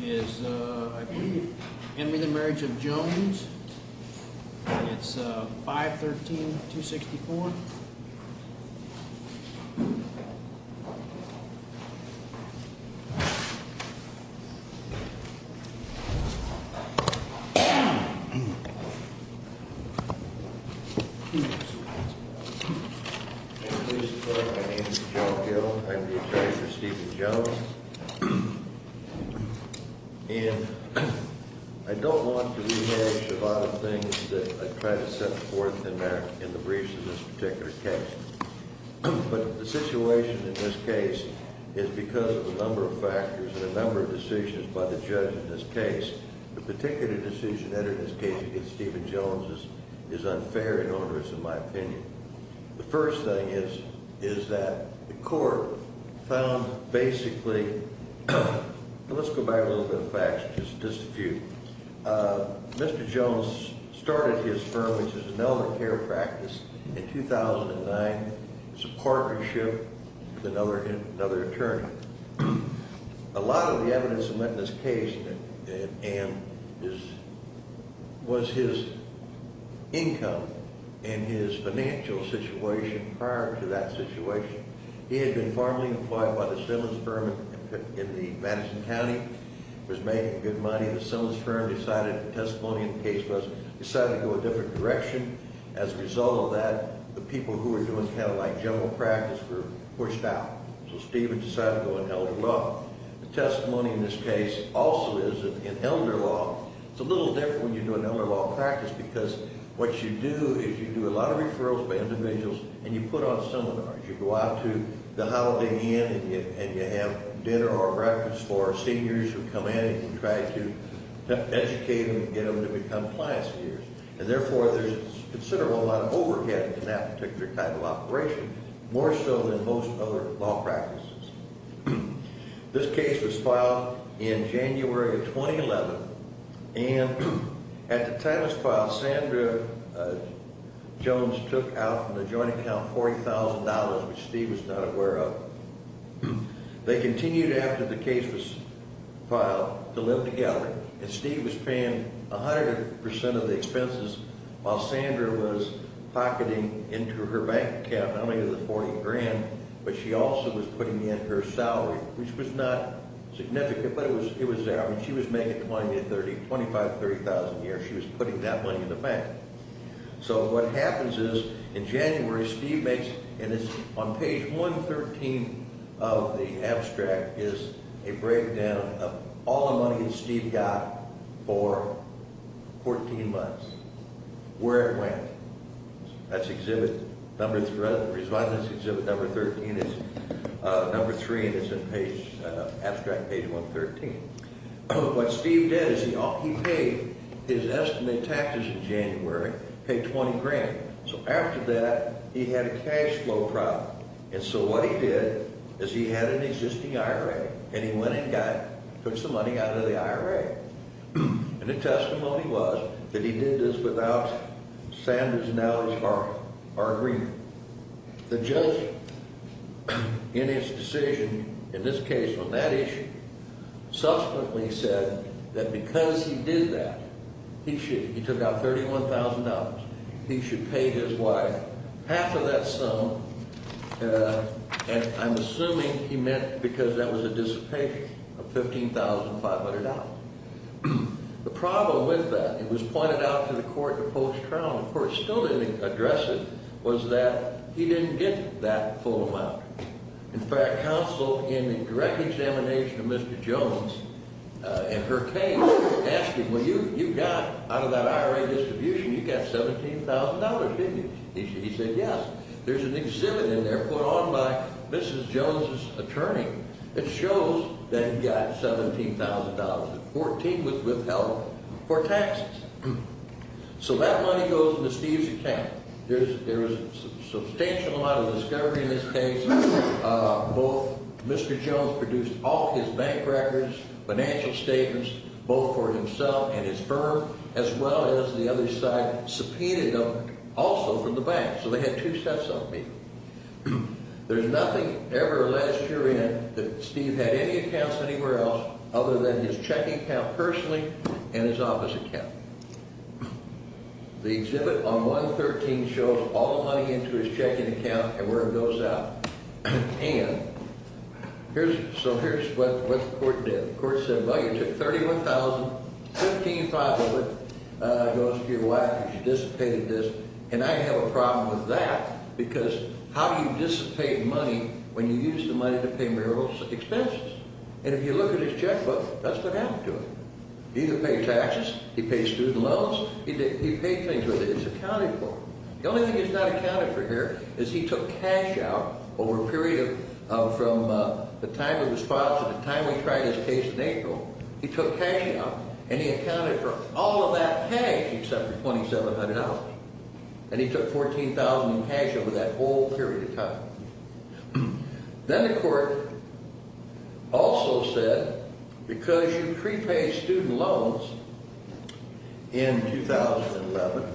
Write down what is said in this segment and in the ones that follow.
Is, uh, I believe, Henry the marriage of Jones. It's, uh, 513-264. I'm the attorney for Stephen Jones. And I don't want to rehash a lot of things that I've tried to set forth in the briefs in this particular case. But the situation in this case is because of a number of factors and a number of decisions by the judge in this case, the particular decision that in this case against Stephen Jones is unfair and onerous, in my opinion. The first thing is, is that the court found basically, let's go back a little bit of facts, just a few. Mr. Jones started his firm, which is an elder care practice, in 2009 as a partnership with another attorney. A lot of the evidence in this case was his income and his financial situation prior to that situation. He had been formally employed by the Simmons firm in the Madison County, was making good money. The Simmons firm decided the testimony in the case was decided to go a different direction. As a result of that, the people who were doing kind of like general practice were pushed out. So Stephen decided to go in elder law. The testimony in this case also is in elder law. It's a little different when you do an elder law practice because what you do is you do a lot of referrals by individuals and you put on seminars. You go out to the Holiday Inn and you have dinner or breakfast for seniors who come in and you try to educate them and get them to be compliance peers. And therefore, there's considerable amount of overhead in that particular type of operation, more so than most other law practices. This case was filed in January of 2011. And at the time it was filed, Sandra Jones took out from the joint account $40,000, which Steve was not aware of. They continued after the case was filed to live together. And Steve was paying 100% of the expenses while Sandra was pocketing into her bank account not only the $40,000, but she also was putting in her salary, which was not significant, but it was there. I mean, she was making $20,000, $30,000, $25,000, $30,000 a year. She was putting that money in the bank. So what happens is, in January, Steve makes, and it's on page 113 of the abstract, is a breakdown of all the money that Steve got for 14 months. Where it went. That's exhibit number, the residence exhibit number 13 is number 3, and it's in page, abstract page 113. What Steve did is he paid his estimated taxes in January, paid 20 grand. So after that, he had a cash flow problem. And so what he did is he had an existing IRA, and he went and got, took some money out of the IRA. And the testimony was that he did this without Sandra's knowledge or agreement. The judge, in his decision, in this case on that issue, subsequently said that because he did that, he should, he took out $31,000. He should pay his wife half of that sum, and I'm assuming he meant because that was a dissipation of $15,500. The problem with that, it was pointed out to the court in the post-trial, and the court still didn't address it, was that he didn't get that full amount. In fact, counsel, in the direct examination of Mr. Jones and her case, asked him, well, you got, out of that IRA distribution, you got $17,000, didn't you? He said, yes. There's an exhibit in there put on by Mrs. Jones' attorney that shows that he got $17,000 at 14 with help for taxes. So that money goes into Steve's account. There was a substantial amount of discovery in this case. Both Mr. Jones produced all his bank records, financial statements, both for himself and his firm, as well as the other side subpoenaed them also from the bank. So they had two sets of them. There's nothing ever, last year in, that Steve had any accounts anywhere else other than his checking account personally and his office account. The exhibit on 113 shows all the money into his checking account and where it goes out. And here's, so here's what the court did. The court said, well, you took $31,000, $15,500 goes to your wife because you dissipated this. And I have a problem with that because how do you dissipate money when you use the money to pay marital expenses? And if you look at his checkbook, that's what happened to him. He didn't pay taxes. He paid student loans. He paid things with it. It's accounted for. The only thing it's not accounted for here is he took cash out over a period of, from the time it was filed to the time we tried his case in April. He took cash out and he accounted for all of that cash except for $2,700. And he took $14,000 in cash over that whole period of time. Then the court also said because you prepaid student loans in 2011,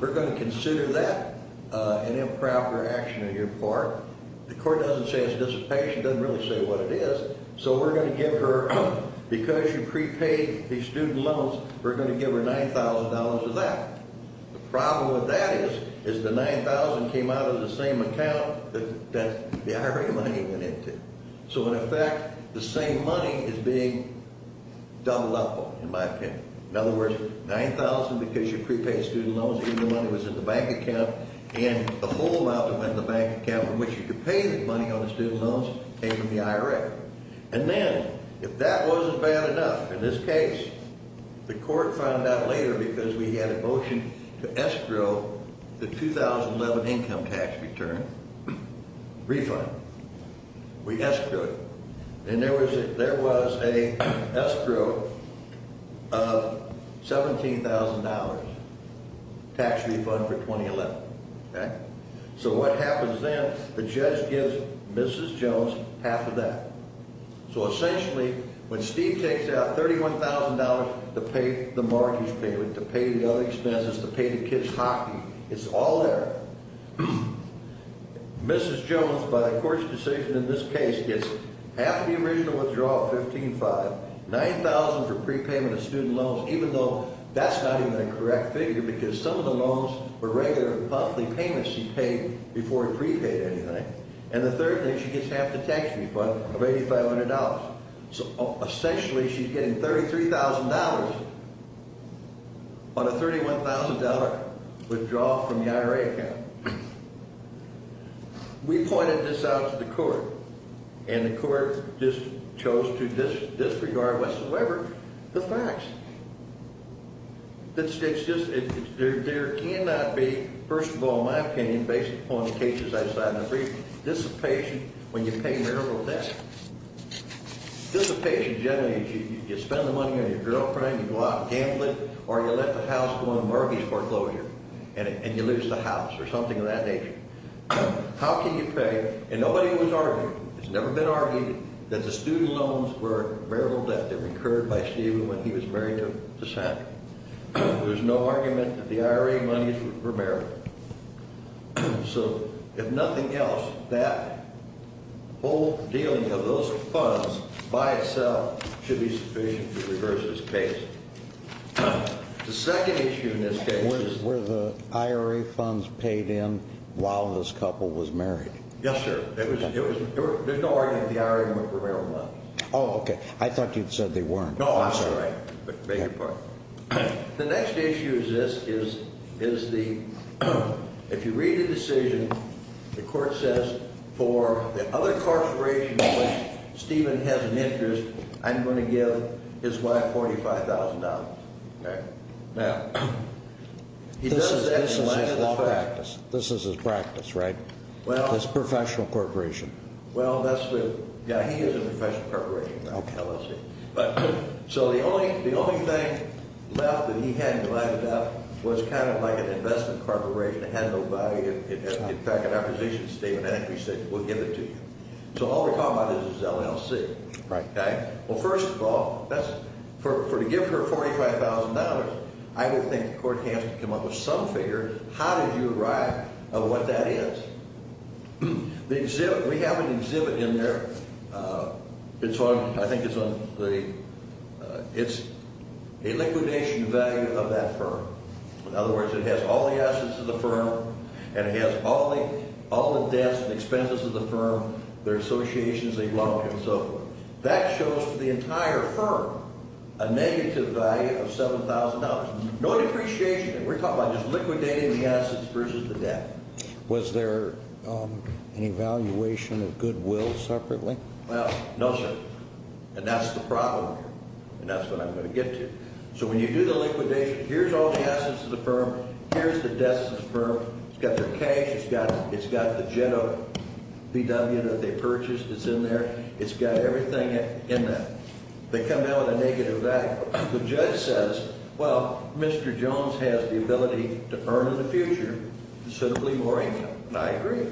we're going to consider that an improper action on your part. The court doesn't say it's dissipation. It doesn't really say what it is. So we're going to give her, because you prepaid the student loans, we're going to give her $9,000 of that. The problem with that is, is the $9,000 came out of the same account that the IRA money went into. So, in effect, the same money is being doubled up on, in my opinion. In other words, $9,000 because you prepaid student loans. Even the money was in the bank account. And the whole amount that went in the bank account in which you could pay the money on the student loans came from the IRA. And then, if that wasn't bad enough, in this case, the court found out later because we had a motion to escrow the 2011 income tax return refund. We escrowed it. And there was a escrow of $17,000 tax refund for 2011. So what happens then? The judge gives Mrs. Jones half of that. So, essentially, when Steve takes out $31,000 to pay the mortgage payment, to pay the other expenses, to pay the kids' hockey, it's all there. Mrs. Jones, by the court's decision in this case, gets half the original withdrawal of $15,500, $9,000 for prepayment of student loans, even though that's not even a correct figure because some of the loans were regular monthly payments she paid before he prepaid anything. And the third thing, she gets half the tax refund of $8,500. So, essentially, she's getting $33,000 on a $31,000 withdrawal from the IRA account. We pointed this out to the court, and the court just chose to disregard whatsoever the facts. It's just there cannot be, first of all, in my opinion, based upon the cases I cited in the brief, dissipation when you pay marital debt. Dissipation generally is you spend the money on your girlfriend, you go out and gamble it, or you let the house go on mortgage foreclosure and you lose the house or something of that nature. How can you pay, and nobody was arguing, it's never been argued, that the student loans were marital debt that recurred by Stephen when he was married to Sandra. There was no argument that the IRA money were marital. So, if nothing else, that whole dealing of those funds by itself should be sufficient to reverse this case. The second issue in this case is where the IRA funds paid in while this couple was married. Yes, sir. There was no argument that the IRA money were marital debt. Oh, okay. I thought you'd said they weren't. No, I'm sorry. Make your point. The next issue is this, is the, if you read the decision, the court says for the other corporation in which Stephen has an interest, I'm going to give his wife $45,000. Okay. Now, this is his practice, right? Well. This professional corporation. Well, that's what, yeah, he is a professional corporation. Okay. So, the only thing left that he had to line it up was kind of like an investment corporation. It had no value. In fact, in our position, Stephen actually said, we'll give it to you. So, all we're talking about is LLC. Right. Okay. Well, first of all, for to give her $45,000, I would think the court can't come up with some figures. How did you arrive at what that is? We have an exhibit in there. It's on, I think it's on the, it's a liquidation value of that firm. In other words, it has all the assets of the firm, and it has all the debts and expenses of the firm, their associations, a lump, and so forth. That shows to the entire firm a negative value of $7,000. No depreciation. We're talking about just liquidating the assets versus the debt. Was there an evaluation of goodwill separately? Well, no, sir. And that's the problem here. And that's what I'm going to get to. So, when you do the liquidation, here's all the assets of the firm. Here's the debts of the firm. It's got their cash. It's got the jet of VW that they purchased. It's in there. It's got everything in that. They come out with a negative value. The judge says, well, Mr. Jones has the ability to earn in the future, so there'll be more income. And I agree.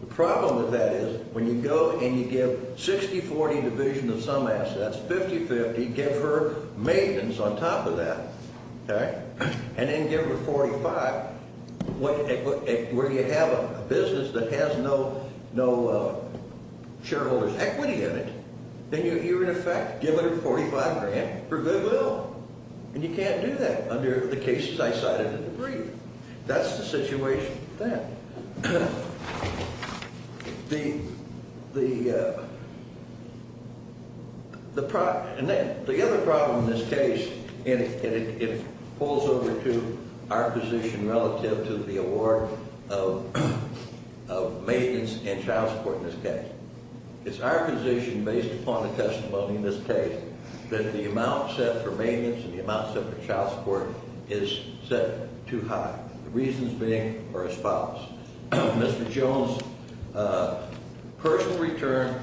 The problem with that is when you go and you give 60-40 division of some assets, 50-50, give her maintenance on top of that, all right, and then give her 45 where you have a business that has no shareholders' equity in it, then you're, in effect, giving her 45 grand for goodwill. And you can't do that under the cases I cited in the brief. That's the situation then. The other problem in this case, and it falls over to our position relative to the award of maintenance and child support in this case, it's our position based upon the testimony in this case that the amount set for maintenance and the amount set for child support is set too high, the reasons being are as follows. Mr. Jones' personal return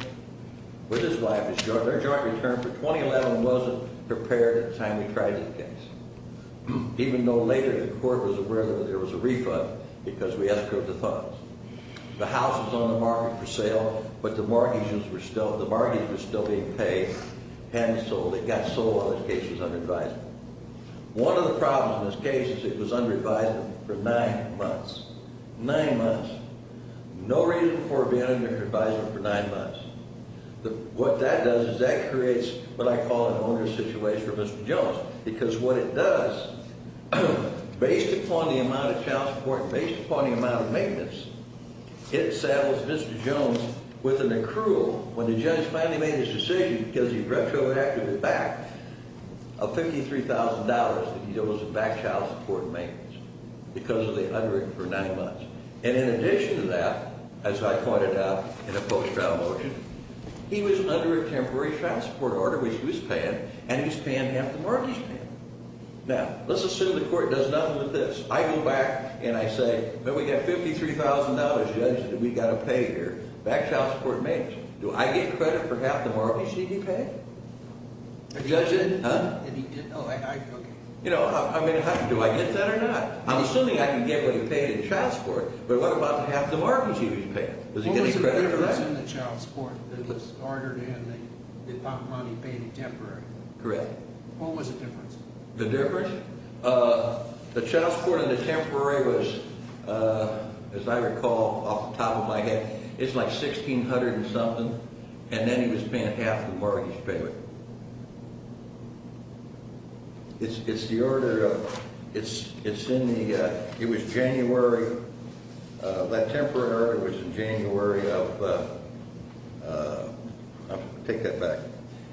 with his wife, their joint return for 2011 wasn't prepared at the time we tried this case, even though later the court was aware that there was a refund because we eschewed the funds. The house was on the market for sale, but the mortgage was still being paid, hadn't sold. It got sold while this case was under advisement. One of the problems in this case is it was under advisement for nine months. Nine months. No reason for it being under advisement for nine months. What that does is that creates what I call an owner's situation for Mr. Jones, because what it does, based upon the amount of child support and based upon the amount of maintenance, it saddles Mr. Jones with an accrual, when the judge finally made his decision because he retroactively backed, of $53,000 that he owes to back child support and maintenance because of the underage for nine months. And in addition to that, as I pointed out in a post-trial motion, he was under a temporary child support order, which he was paying, and he was paying half the mortgage he was paying. Now, let's assume the court does nothing with this. I go back and I say, but we got $53,000, Judge, that we got to pay here, back child support and maintenance. Do I get credit for half the mortgage that he paid? Judge, did he, huh? No, I, okay. You know, I mean, do I get that or not? I'm assuming I can get what he paid in child support, but what about the half the mortgage he was paying? Does he get any credit for that? What was the difference in the child support that he was ordered and the amount of money paid in temporary? Correct. What was the difference? The difference? The child support in the temporary was, as I recall off the top of my head, it's like $1,600 and something, and then he was paying half the mortgage he was paying. It's the order of, it's in the, it was January, that temporary order was in January of, I'll take that back.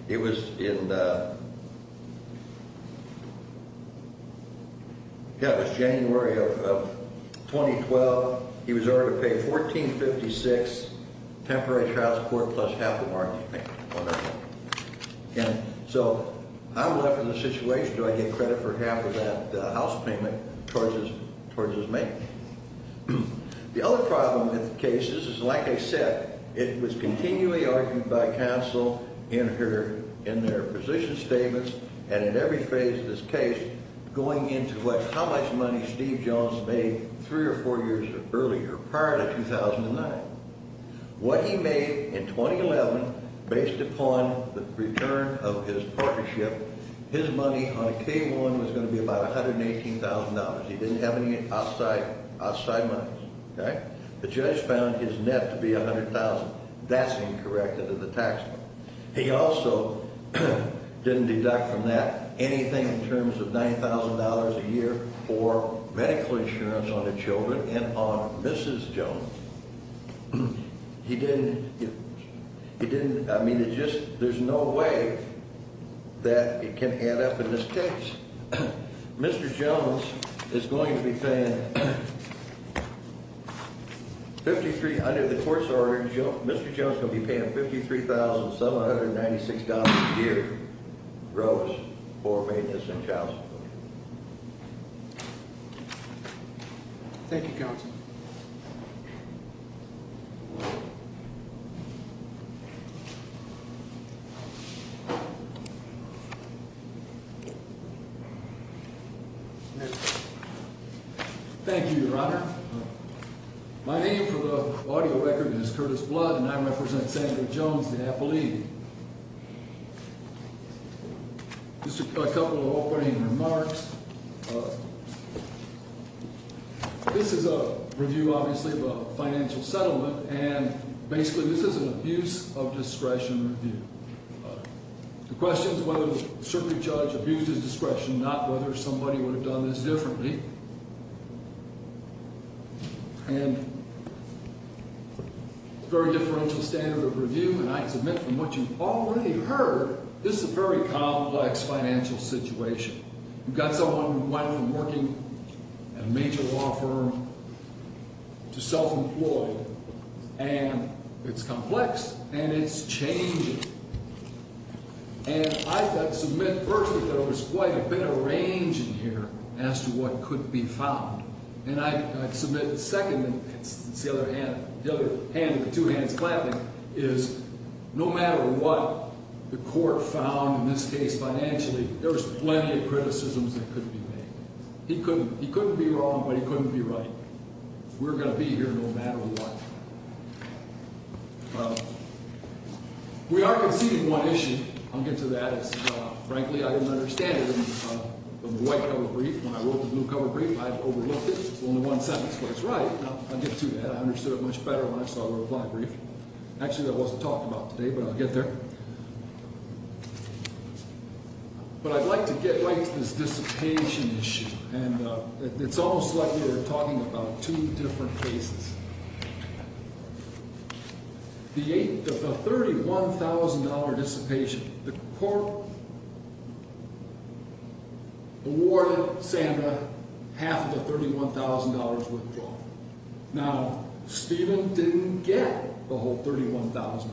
It was in, yeah, it was January of 2012. He was ordered to pay $1,456 temporary child support plus half the mortgage he paid. Okay. And so I'm left in a situation, do I get credit for half of that house payment towards his maintenance? The other problem with the case is, like I said, it was continually argued by counsel in their position statements and in every phase of this case going into what, how much money Steve Jones made three or four years earlier, prior to 2009. What he made in 2011, based upon the return of his partnership, his money on K1 was going to be about $118,000. He didn't have any outside money. Okay. The judge found his net to be $100,000. That's incorrect under the tax law. He also didn't deduct from that anything in terms of $9,000 a year for medical insurance on the children and on Mrs. Jones. He didn't, he didn't, I mean, it just, there's no way that it can add up in this case. Mr. Jones is going to be paying $5,300. The court's ordered Mr. Jones is going to be paying $53,796 a year gross for maintenance and child support. Thank you, counsel. Thank you, Your Honor. My name for the audio record is Curtis Blood, and I represent Sandra Jones, the appellee. Just a couple of opening remarks. This is a review, obviously, of a financial settlement, and basically this is an abuse of discretion review. The question is whether the circuit judge abused his discretion, not whether somebody would have done this differently. And it's a very differential standard of review, and I submit from what you've already heard, this is a very complex financial situation. You've got someone who went from working at a major law firm to self-employed, and it's complex, and it's changing. And I submit first that there was quite a bit of range in here as to what could be found. And I submit second, and it's the other hand, the other hand with two hands clapping, is no matter what the court found in this case financially, there was plenty of criticisms that couldn't be made. He couldn't be wrong, but he couldn't be right. We're going to be here no matter what. We are conceding one issue. I'll get to that. Frankly, I didn't understand it in the white cover brief. When I wrote the blue cover brief, I overlooked it. It's only one sentence, but it's right. I'll get to that. I understood it much better when I saw it in the black brief. Actually, that wasn't talked about today, but I'll get there. But I'd like to get right to this dissipation issue, and it's almost like we're talking about two different cases. The $31,000 dissipation, the court awarded Santa half of the $31,000 withdrawal. Now, Stephen didn't get the whole $31,000,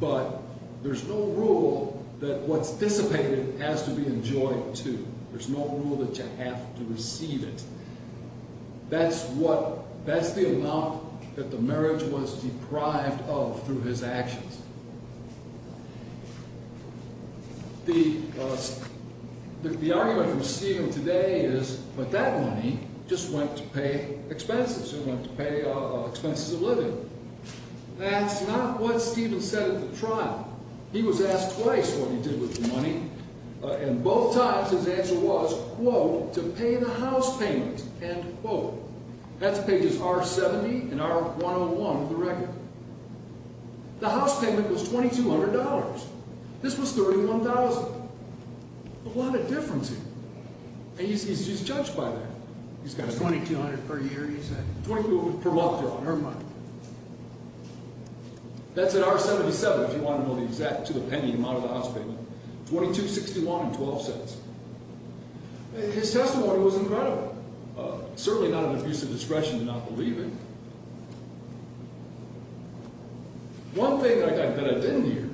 but there's no rule that what's dissipated has to be enjoyed, too. There's no rule that you have to receive it. That's the amount that the marriage was deprived of through his actions. The argument from Stephen today is, but that money just went to pay expenses. It went to pay expenses of living. That's not what Stephen said at the trial. He was asked twice what he did with the money, and both times his answer was, quote, to pay the house payment, end quote. That's pages R-70 and R-101 of the record. The house payment was $2,200. This was $31,000. A lot of difference here, and he's judged by that. He's got a… $2,200 per year, he said. $2,200 per month on her money. That's at R-77, if you want to know the exact, to the penny amount of the house payment. $2,261.12. His testimony was incredible. Certainly not an abuse of discretion to not believe him. One thing that I didn't hear,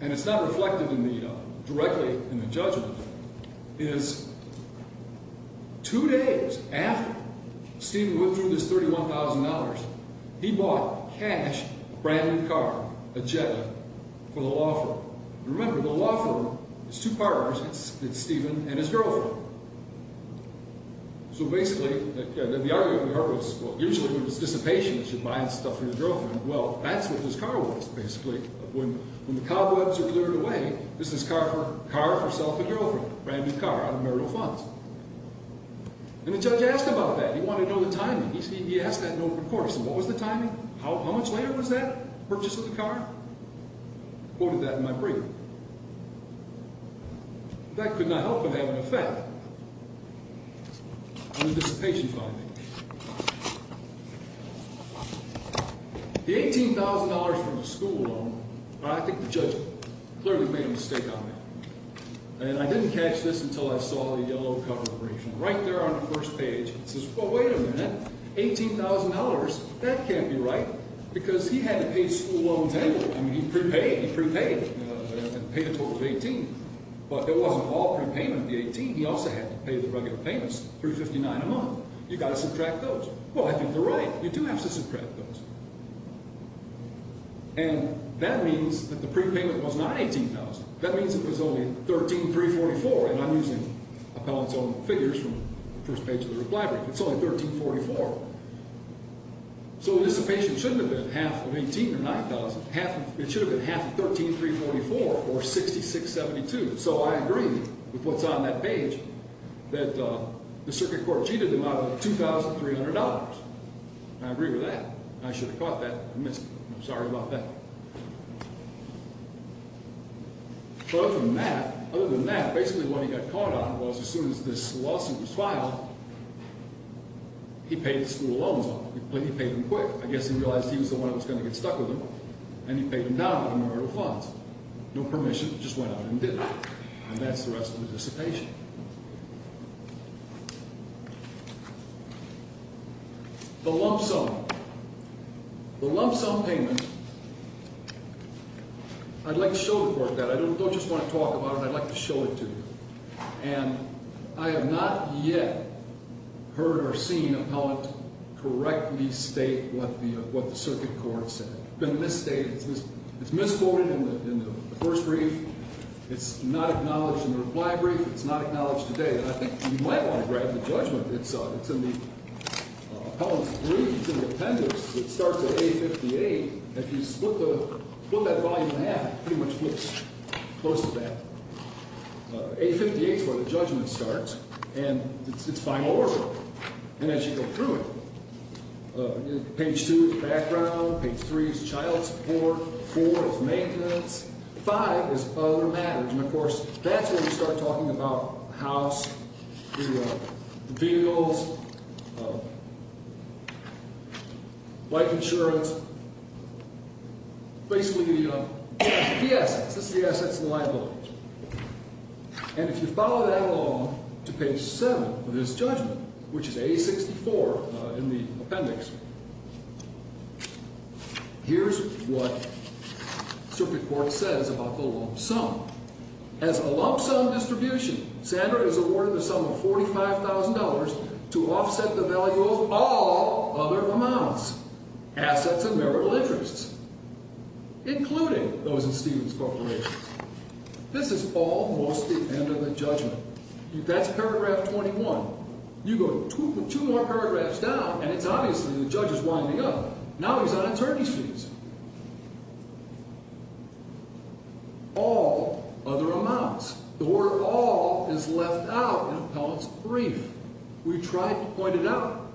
and it's not reflected directly in the judgment, is two days after Stephen went through this $31,000, he bought cash, brand new car, a jet for the law firm. Remember, the law firm is two partners. It's Stephen and his girlfriend. Basically, the argument with her was, well, usually when it's dissipation, you should buy stuff for your girlfriend. Well, that's what this car was, basically. When the cobwebs are cleared away, this is car for self and girlfriend, brand new car out of marital funds. The judge asked about that. He wanted to know the timing. He asked that in open court. What was the timing? How much later was that purchase of the car? Quoted that in my brief. That could not help but have an effect on the dissipation finding. The $18,000 from the school loan, I think the judge clearly made a mistake on that. And I didn't catch this until I saw the yellow cover briefing. Right there on the first page, it says, well, wait a minute, $18,000? That can't be right. Because he had to pay school loans annually. I mean, he prepaid. He prepaid and paid a total of $18,000. But it wasn't all prepayment of the $18,000. He also had to pay the regular payments, $359 a month. You've got to subtract those. Well, I think they're right. You do have to subtract those. And that means that the prepayment was not $18,000. That means it was only $13,344. And I'm using appellant's own figures from the first page of the reply brief. It's only $13,444. So the dissipation shouldn't have been half of $18,000 or $9,000. It should have been half of $13,344 or $66,72. So I agree with what's on that page that the circuit court cheated him out of $2,300. And I agree with that. I should have caught that. I missed it. I'm sorry about that. But other than that, basically what he got caught on was as soon as this lawsuit was filed, he paid the school loans off. He paid them quick. I guess he realized he was the one that was going to get stuck with them, and he paid them down with the marital funds. No permission. He just went out and did it. And that's the rest of the dissipation. The lump sum. The lump sum payment, I'd like to show the court that. I don't just want to talk about it. I'd like to show it to you. And I have not yet heard or seen appellant correctly state what the circuit court said. It's been misstated. It's misquoted in the first brief. It's not acknowledged in the reply brief. It's not acknowledged today. And I think you might want to grab the judgment. It's in the appellant's brief. It's in the appendix. It starts at A58. If you split that volume in half, it pretty much flips close to that. A58 is where the judgment starts. And it's by order. And as you go through it, page 2 is background. Page 3 is child support. 4 is maintenance. 5 is other matters. And, of course, that's where we start talking about the house, the vehicles, life insurance, basically the assets. This is the assets and liability. And if you follow that along to page 7 of this judgment, which is A64 in the appendix, here's what the circuit court says about the lump sum. As a lump sum distribution, Sandra is awarded the sum of $45,000 to offset the value of all other amounts, assets and marital interests, including those in Stephen's corporation. This is almost the end of the judgment. That's paragraph 21. You go two more paragraphs down, and it's obviously the judge is winding up. Now he's on attorney's fees. All other amounts. The word all is left out in appellant's brief. We tried to point it out,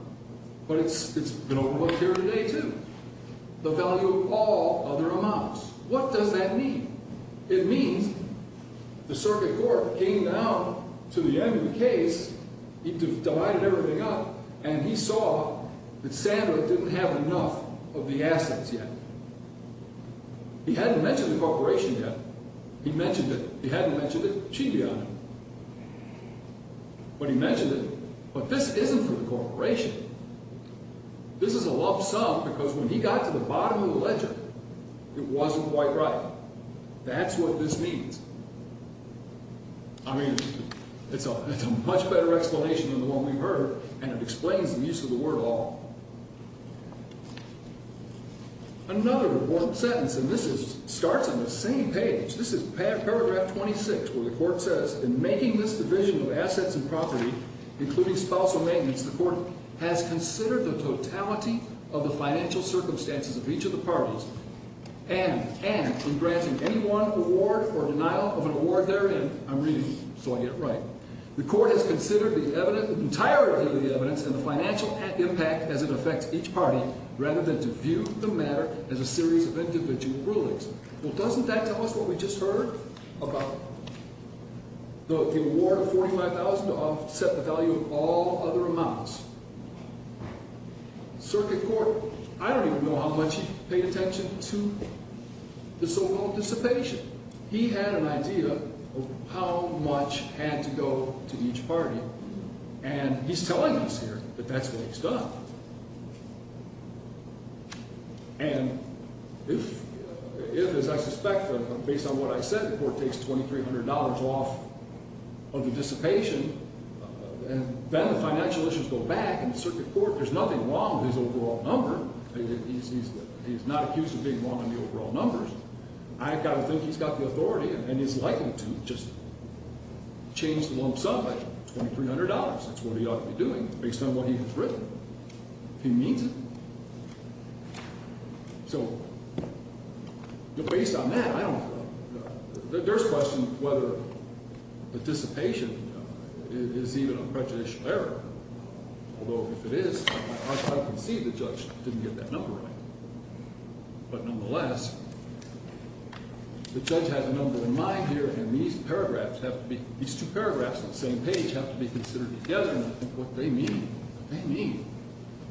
but it's been overlooked here today, too. The value of all other amounts. What does that mean? It means the circuit court came down to the end of the case, divided everything up, and he saw that Sandra didn't have enough of the assets yet. He hadn't mentioned the corporation yet. He mentioned it. He hadn't mentioned it. Chibi on him. But he mentioned it. But this isn't for the corporation. This is a lump sum because when he got to the bottom of the ledger, it wasn't quite right. That's what this means. I mean, it's a much better explanation than the one we heard, and it explains the use of the word all. Another important sentence, and this starts on the same page. This is paragraph 26 where the court says, in making this division of assets and property, including spousal maintenance, the court has considered the totality of the financial circumstances of each of the parties, and in granting any one award or denial of an award therein. I'm reading, so I get it right. The court has considered the entire evidence and the financial impact as it affects each party rather than to view the matter as a series of individual rulings. Well, doesn't that tell us what we just heard about the award of $45,000 offset the value of all other amounts? Circuit court, I don't even know how much he paid attention to the so-called dissipation. He had an idea of how much had to go to each party, and he's telling us here that that's what he's done. And if, as I suspect, based on what I said, the court takes $2,300 off of the dissipation, then the financial issues go back, and the circuit court, there's nothing wrong with his overall number. He's not accused of being wrong on the overall numbers. I've got to think he's got the authority and is likely to just change the lump sum by $2,300. That's what he ought to be doing based on what he has written, if he means it. So based on that, I don't know. There's question whether the dissipation is even a prejudicial error, although if it is, I can see the judge didn't get that number right. But nonetheless, the judge has a number in mind here, and these paragraphs have to be – these two paragraphs on the same page have to be considered together, and I think what they mean, they mean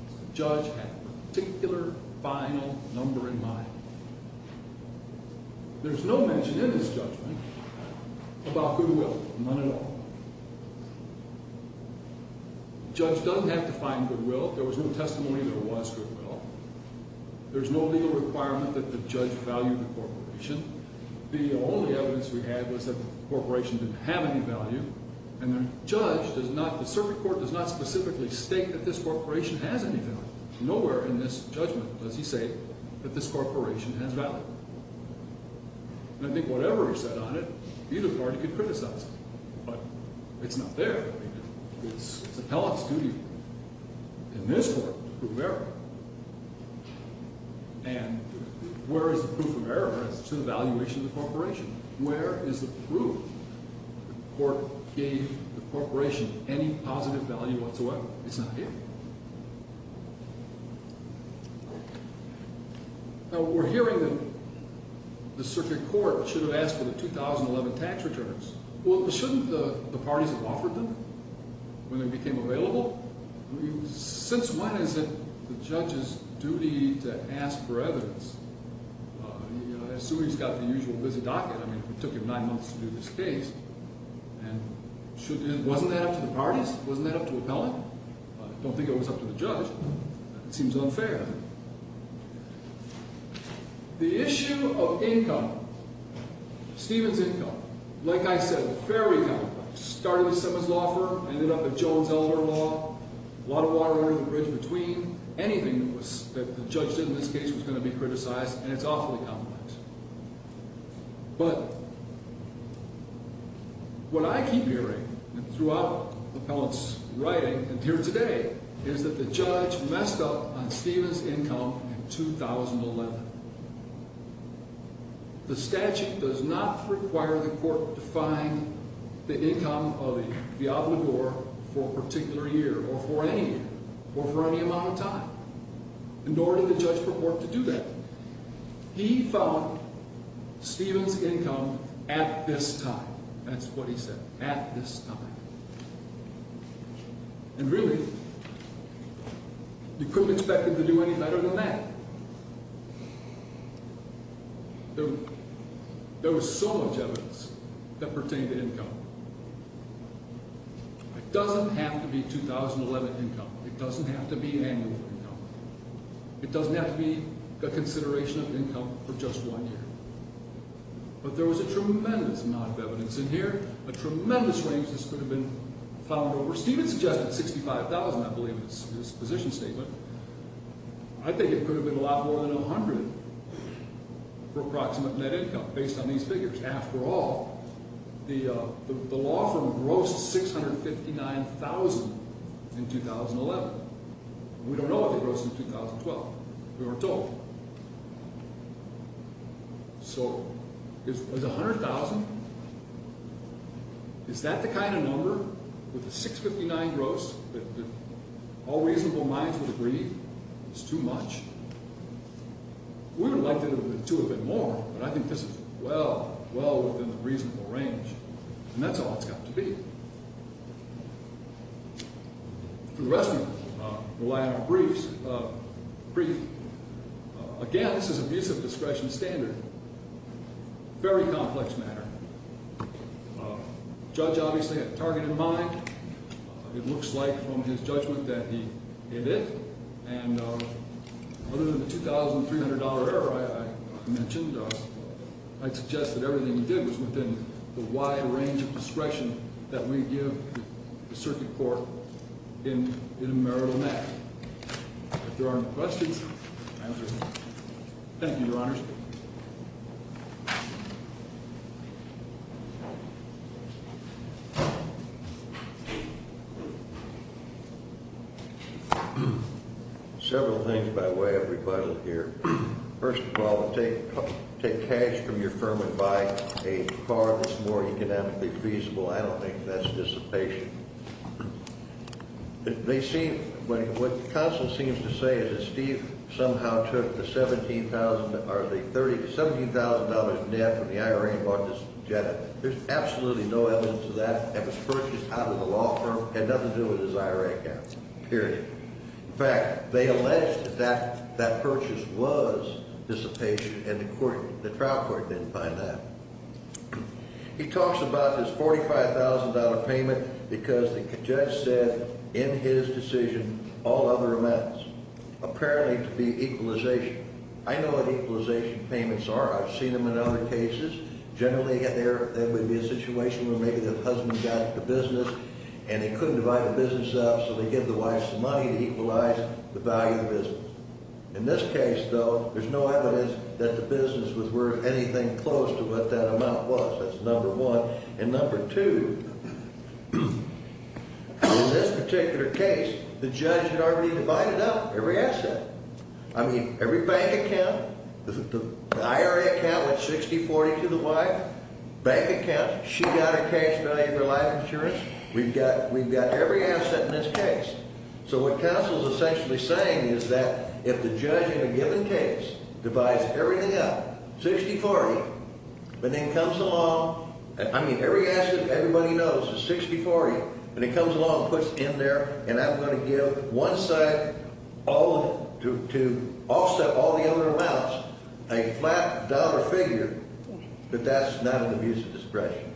the judge had a particular final number in mind. There's no mention in his judgment about goodwill, none at all. The judge doesn't have to find goodwill. There was no testimony that it was goodwill. There's no legal requirement that the judge value the corporation. The only evidence we had was that the corporation didn't have any value, and the judge does not – the circuit court does not specifically state that this corporation has any value. Nowhere in this judgment does he say that this corporation has value. And I think whatever is said on it, either party can criticize it, but it's not there. It's the Pellof's duty in this court to prove error, and where is the proof of error? It's in the valuation of the corporation. Where is the proof that the court gave the corporation any positive value whatsoever? It's not here. Now, we're hearing that the circuit court should have asked for the 2011 tax returns. Well, shouldn't the parties have offered them when they became available? Since when is it the judge's duty to ask for evidence? I assume he's got the usual busy docket. I mean, it took him nine months to do this case, and shouldn't – wasn't that up to the parties? Wasn't that up to appellant? I don't think it was up to the judge. It seems unfair. The issue of income, Stephen's income, like I said, very complex. Started with Simmons Law Firm, ended up at Jones Elder Law, a lot of water under the bridge between. Anything that the judge did in this case was going to be criticized, and it's awfully complex. But what I keep hearing throughout appellant's writing and here today is that the judge messed up on Stephen's income in 2011. The statute does not require the court to find the income of the obligor for a particular year or for any year or for any amount of time. Nor did the judge purport to do that. He found Stephen's income at this time. That's what he said, at this time. And really, you couldn't expect him to do any better than that. There was so much evidence that pertained to income. It doesn't have to be 2011 income. It doesn't have to be annual income. It doesn't have to be a consideration of income for just one year. But there was a tremendous amount of evidence in here, a tremendous range this could have been found over. Stephen suggested $65,000, I believe, in his position statement. I think it could have been a lot more than $100,000 for approximate net income based on these figures. After all, the law firm grossed $659,000 in 2011. We don't know what they grossed in 2012. We weren't told. So is $100,000, is that the kind of number with a $659,000 gross that all reasonable minds would agree is too much? We would have liked it to have been more, but I think this is well, well within the reasonable range. And that's all it's got to be. For the rest of you, the line of briefs, again, this is abuse of discretion standard, very complex matter. The judge obviously had a target in mind. It looks like from his judgment that it is. And other than the $2,300 error I mentioned, I'd suggest that everything he did was within the wide range of discretion that we give the circuit court in a marital net. If there aren't any questions, I'll answer them. Thank you, Your Honors. Several things by way of rebuttal here. First of all, take cash from your firm and buy a car that's more economically feasible. I don't think that's dissipation. They seem, what Constance seems to say is that Steve somehow took the $17,000 net from the IRA and bought this Jetta. There's absolutely no evidence of that. It was purchased out of the law firm. It had nothing to do with his IRA account, period. In fact, they alleged that that purchase was dissipation, and the trial court didn't find that. He talks about this $45,000 payment because the judge said in his decision all other amounts, apparently to be equalization. I know what equalization payments are. I've seen them in other cases. Generally, there would be a situation where maybe the husband got the business, and he couldn't divide the business up, so they gave the wife some money to equalize the value of the business. In this case, though, there's no evidence that the business was worth anything close to what that amount was. That's number one. And number two, in this particular case, the judge had already divided up every asset. I mean, every bank account. The IRA account was $60.40 to the wife. Bank account, she got her cash value for life insurance. We've got every asset in this case. So what counsel is essentially saying is that if the judge in a given case divides everything up, $60.40, and then comes along, I mean, every asset everybody knows is $60.40, and he comes along and puts it in there, and I'm going to give one side to offset all the other amounts a flat dollar figure, that that's not an abuse of discretion.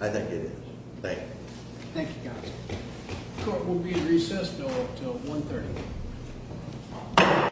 I think it is. Thank you. Thank you, counsel. Court will be in recess until 1.30.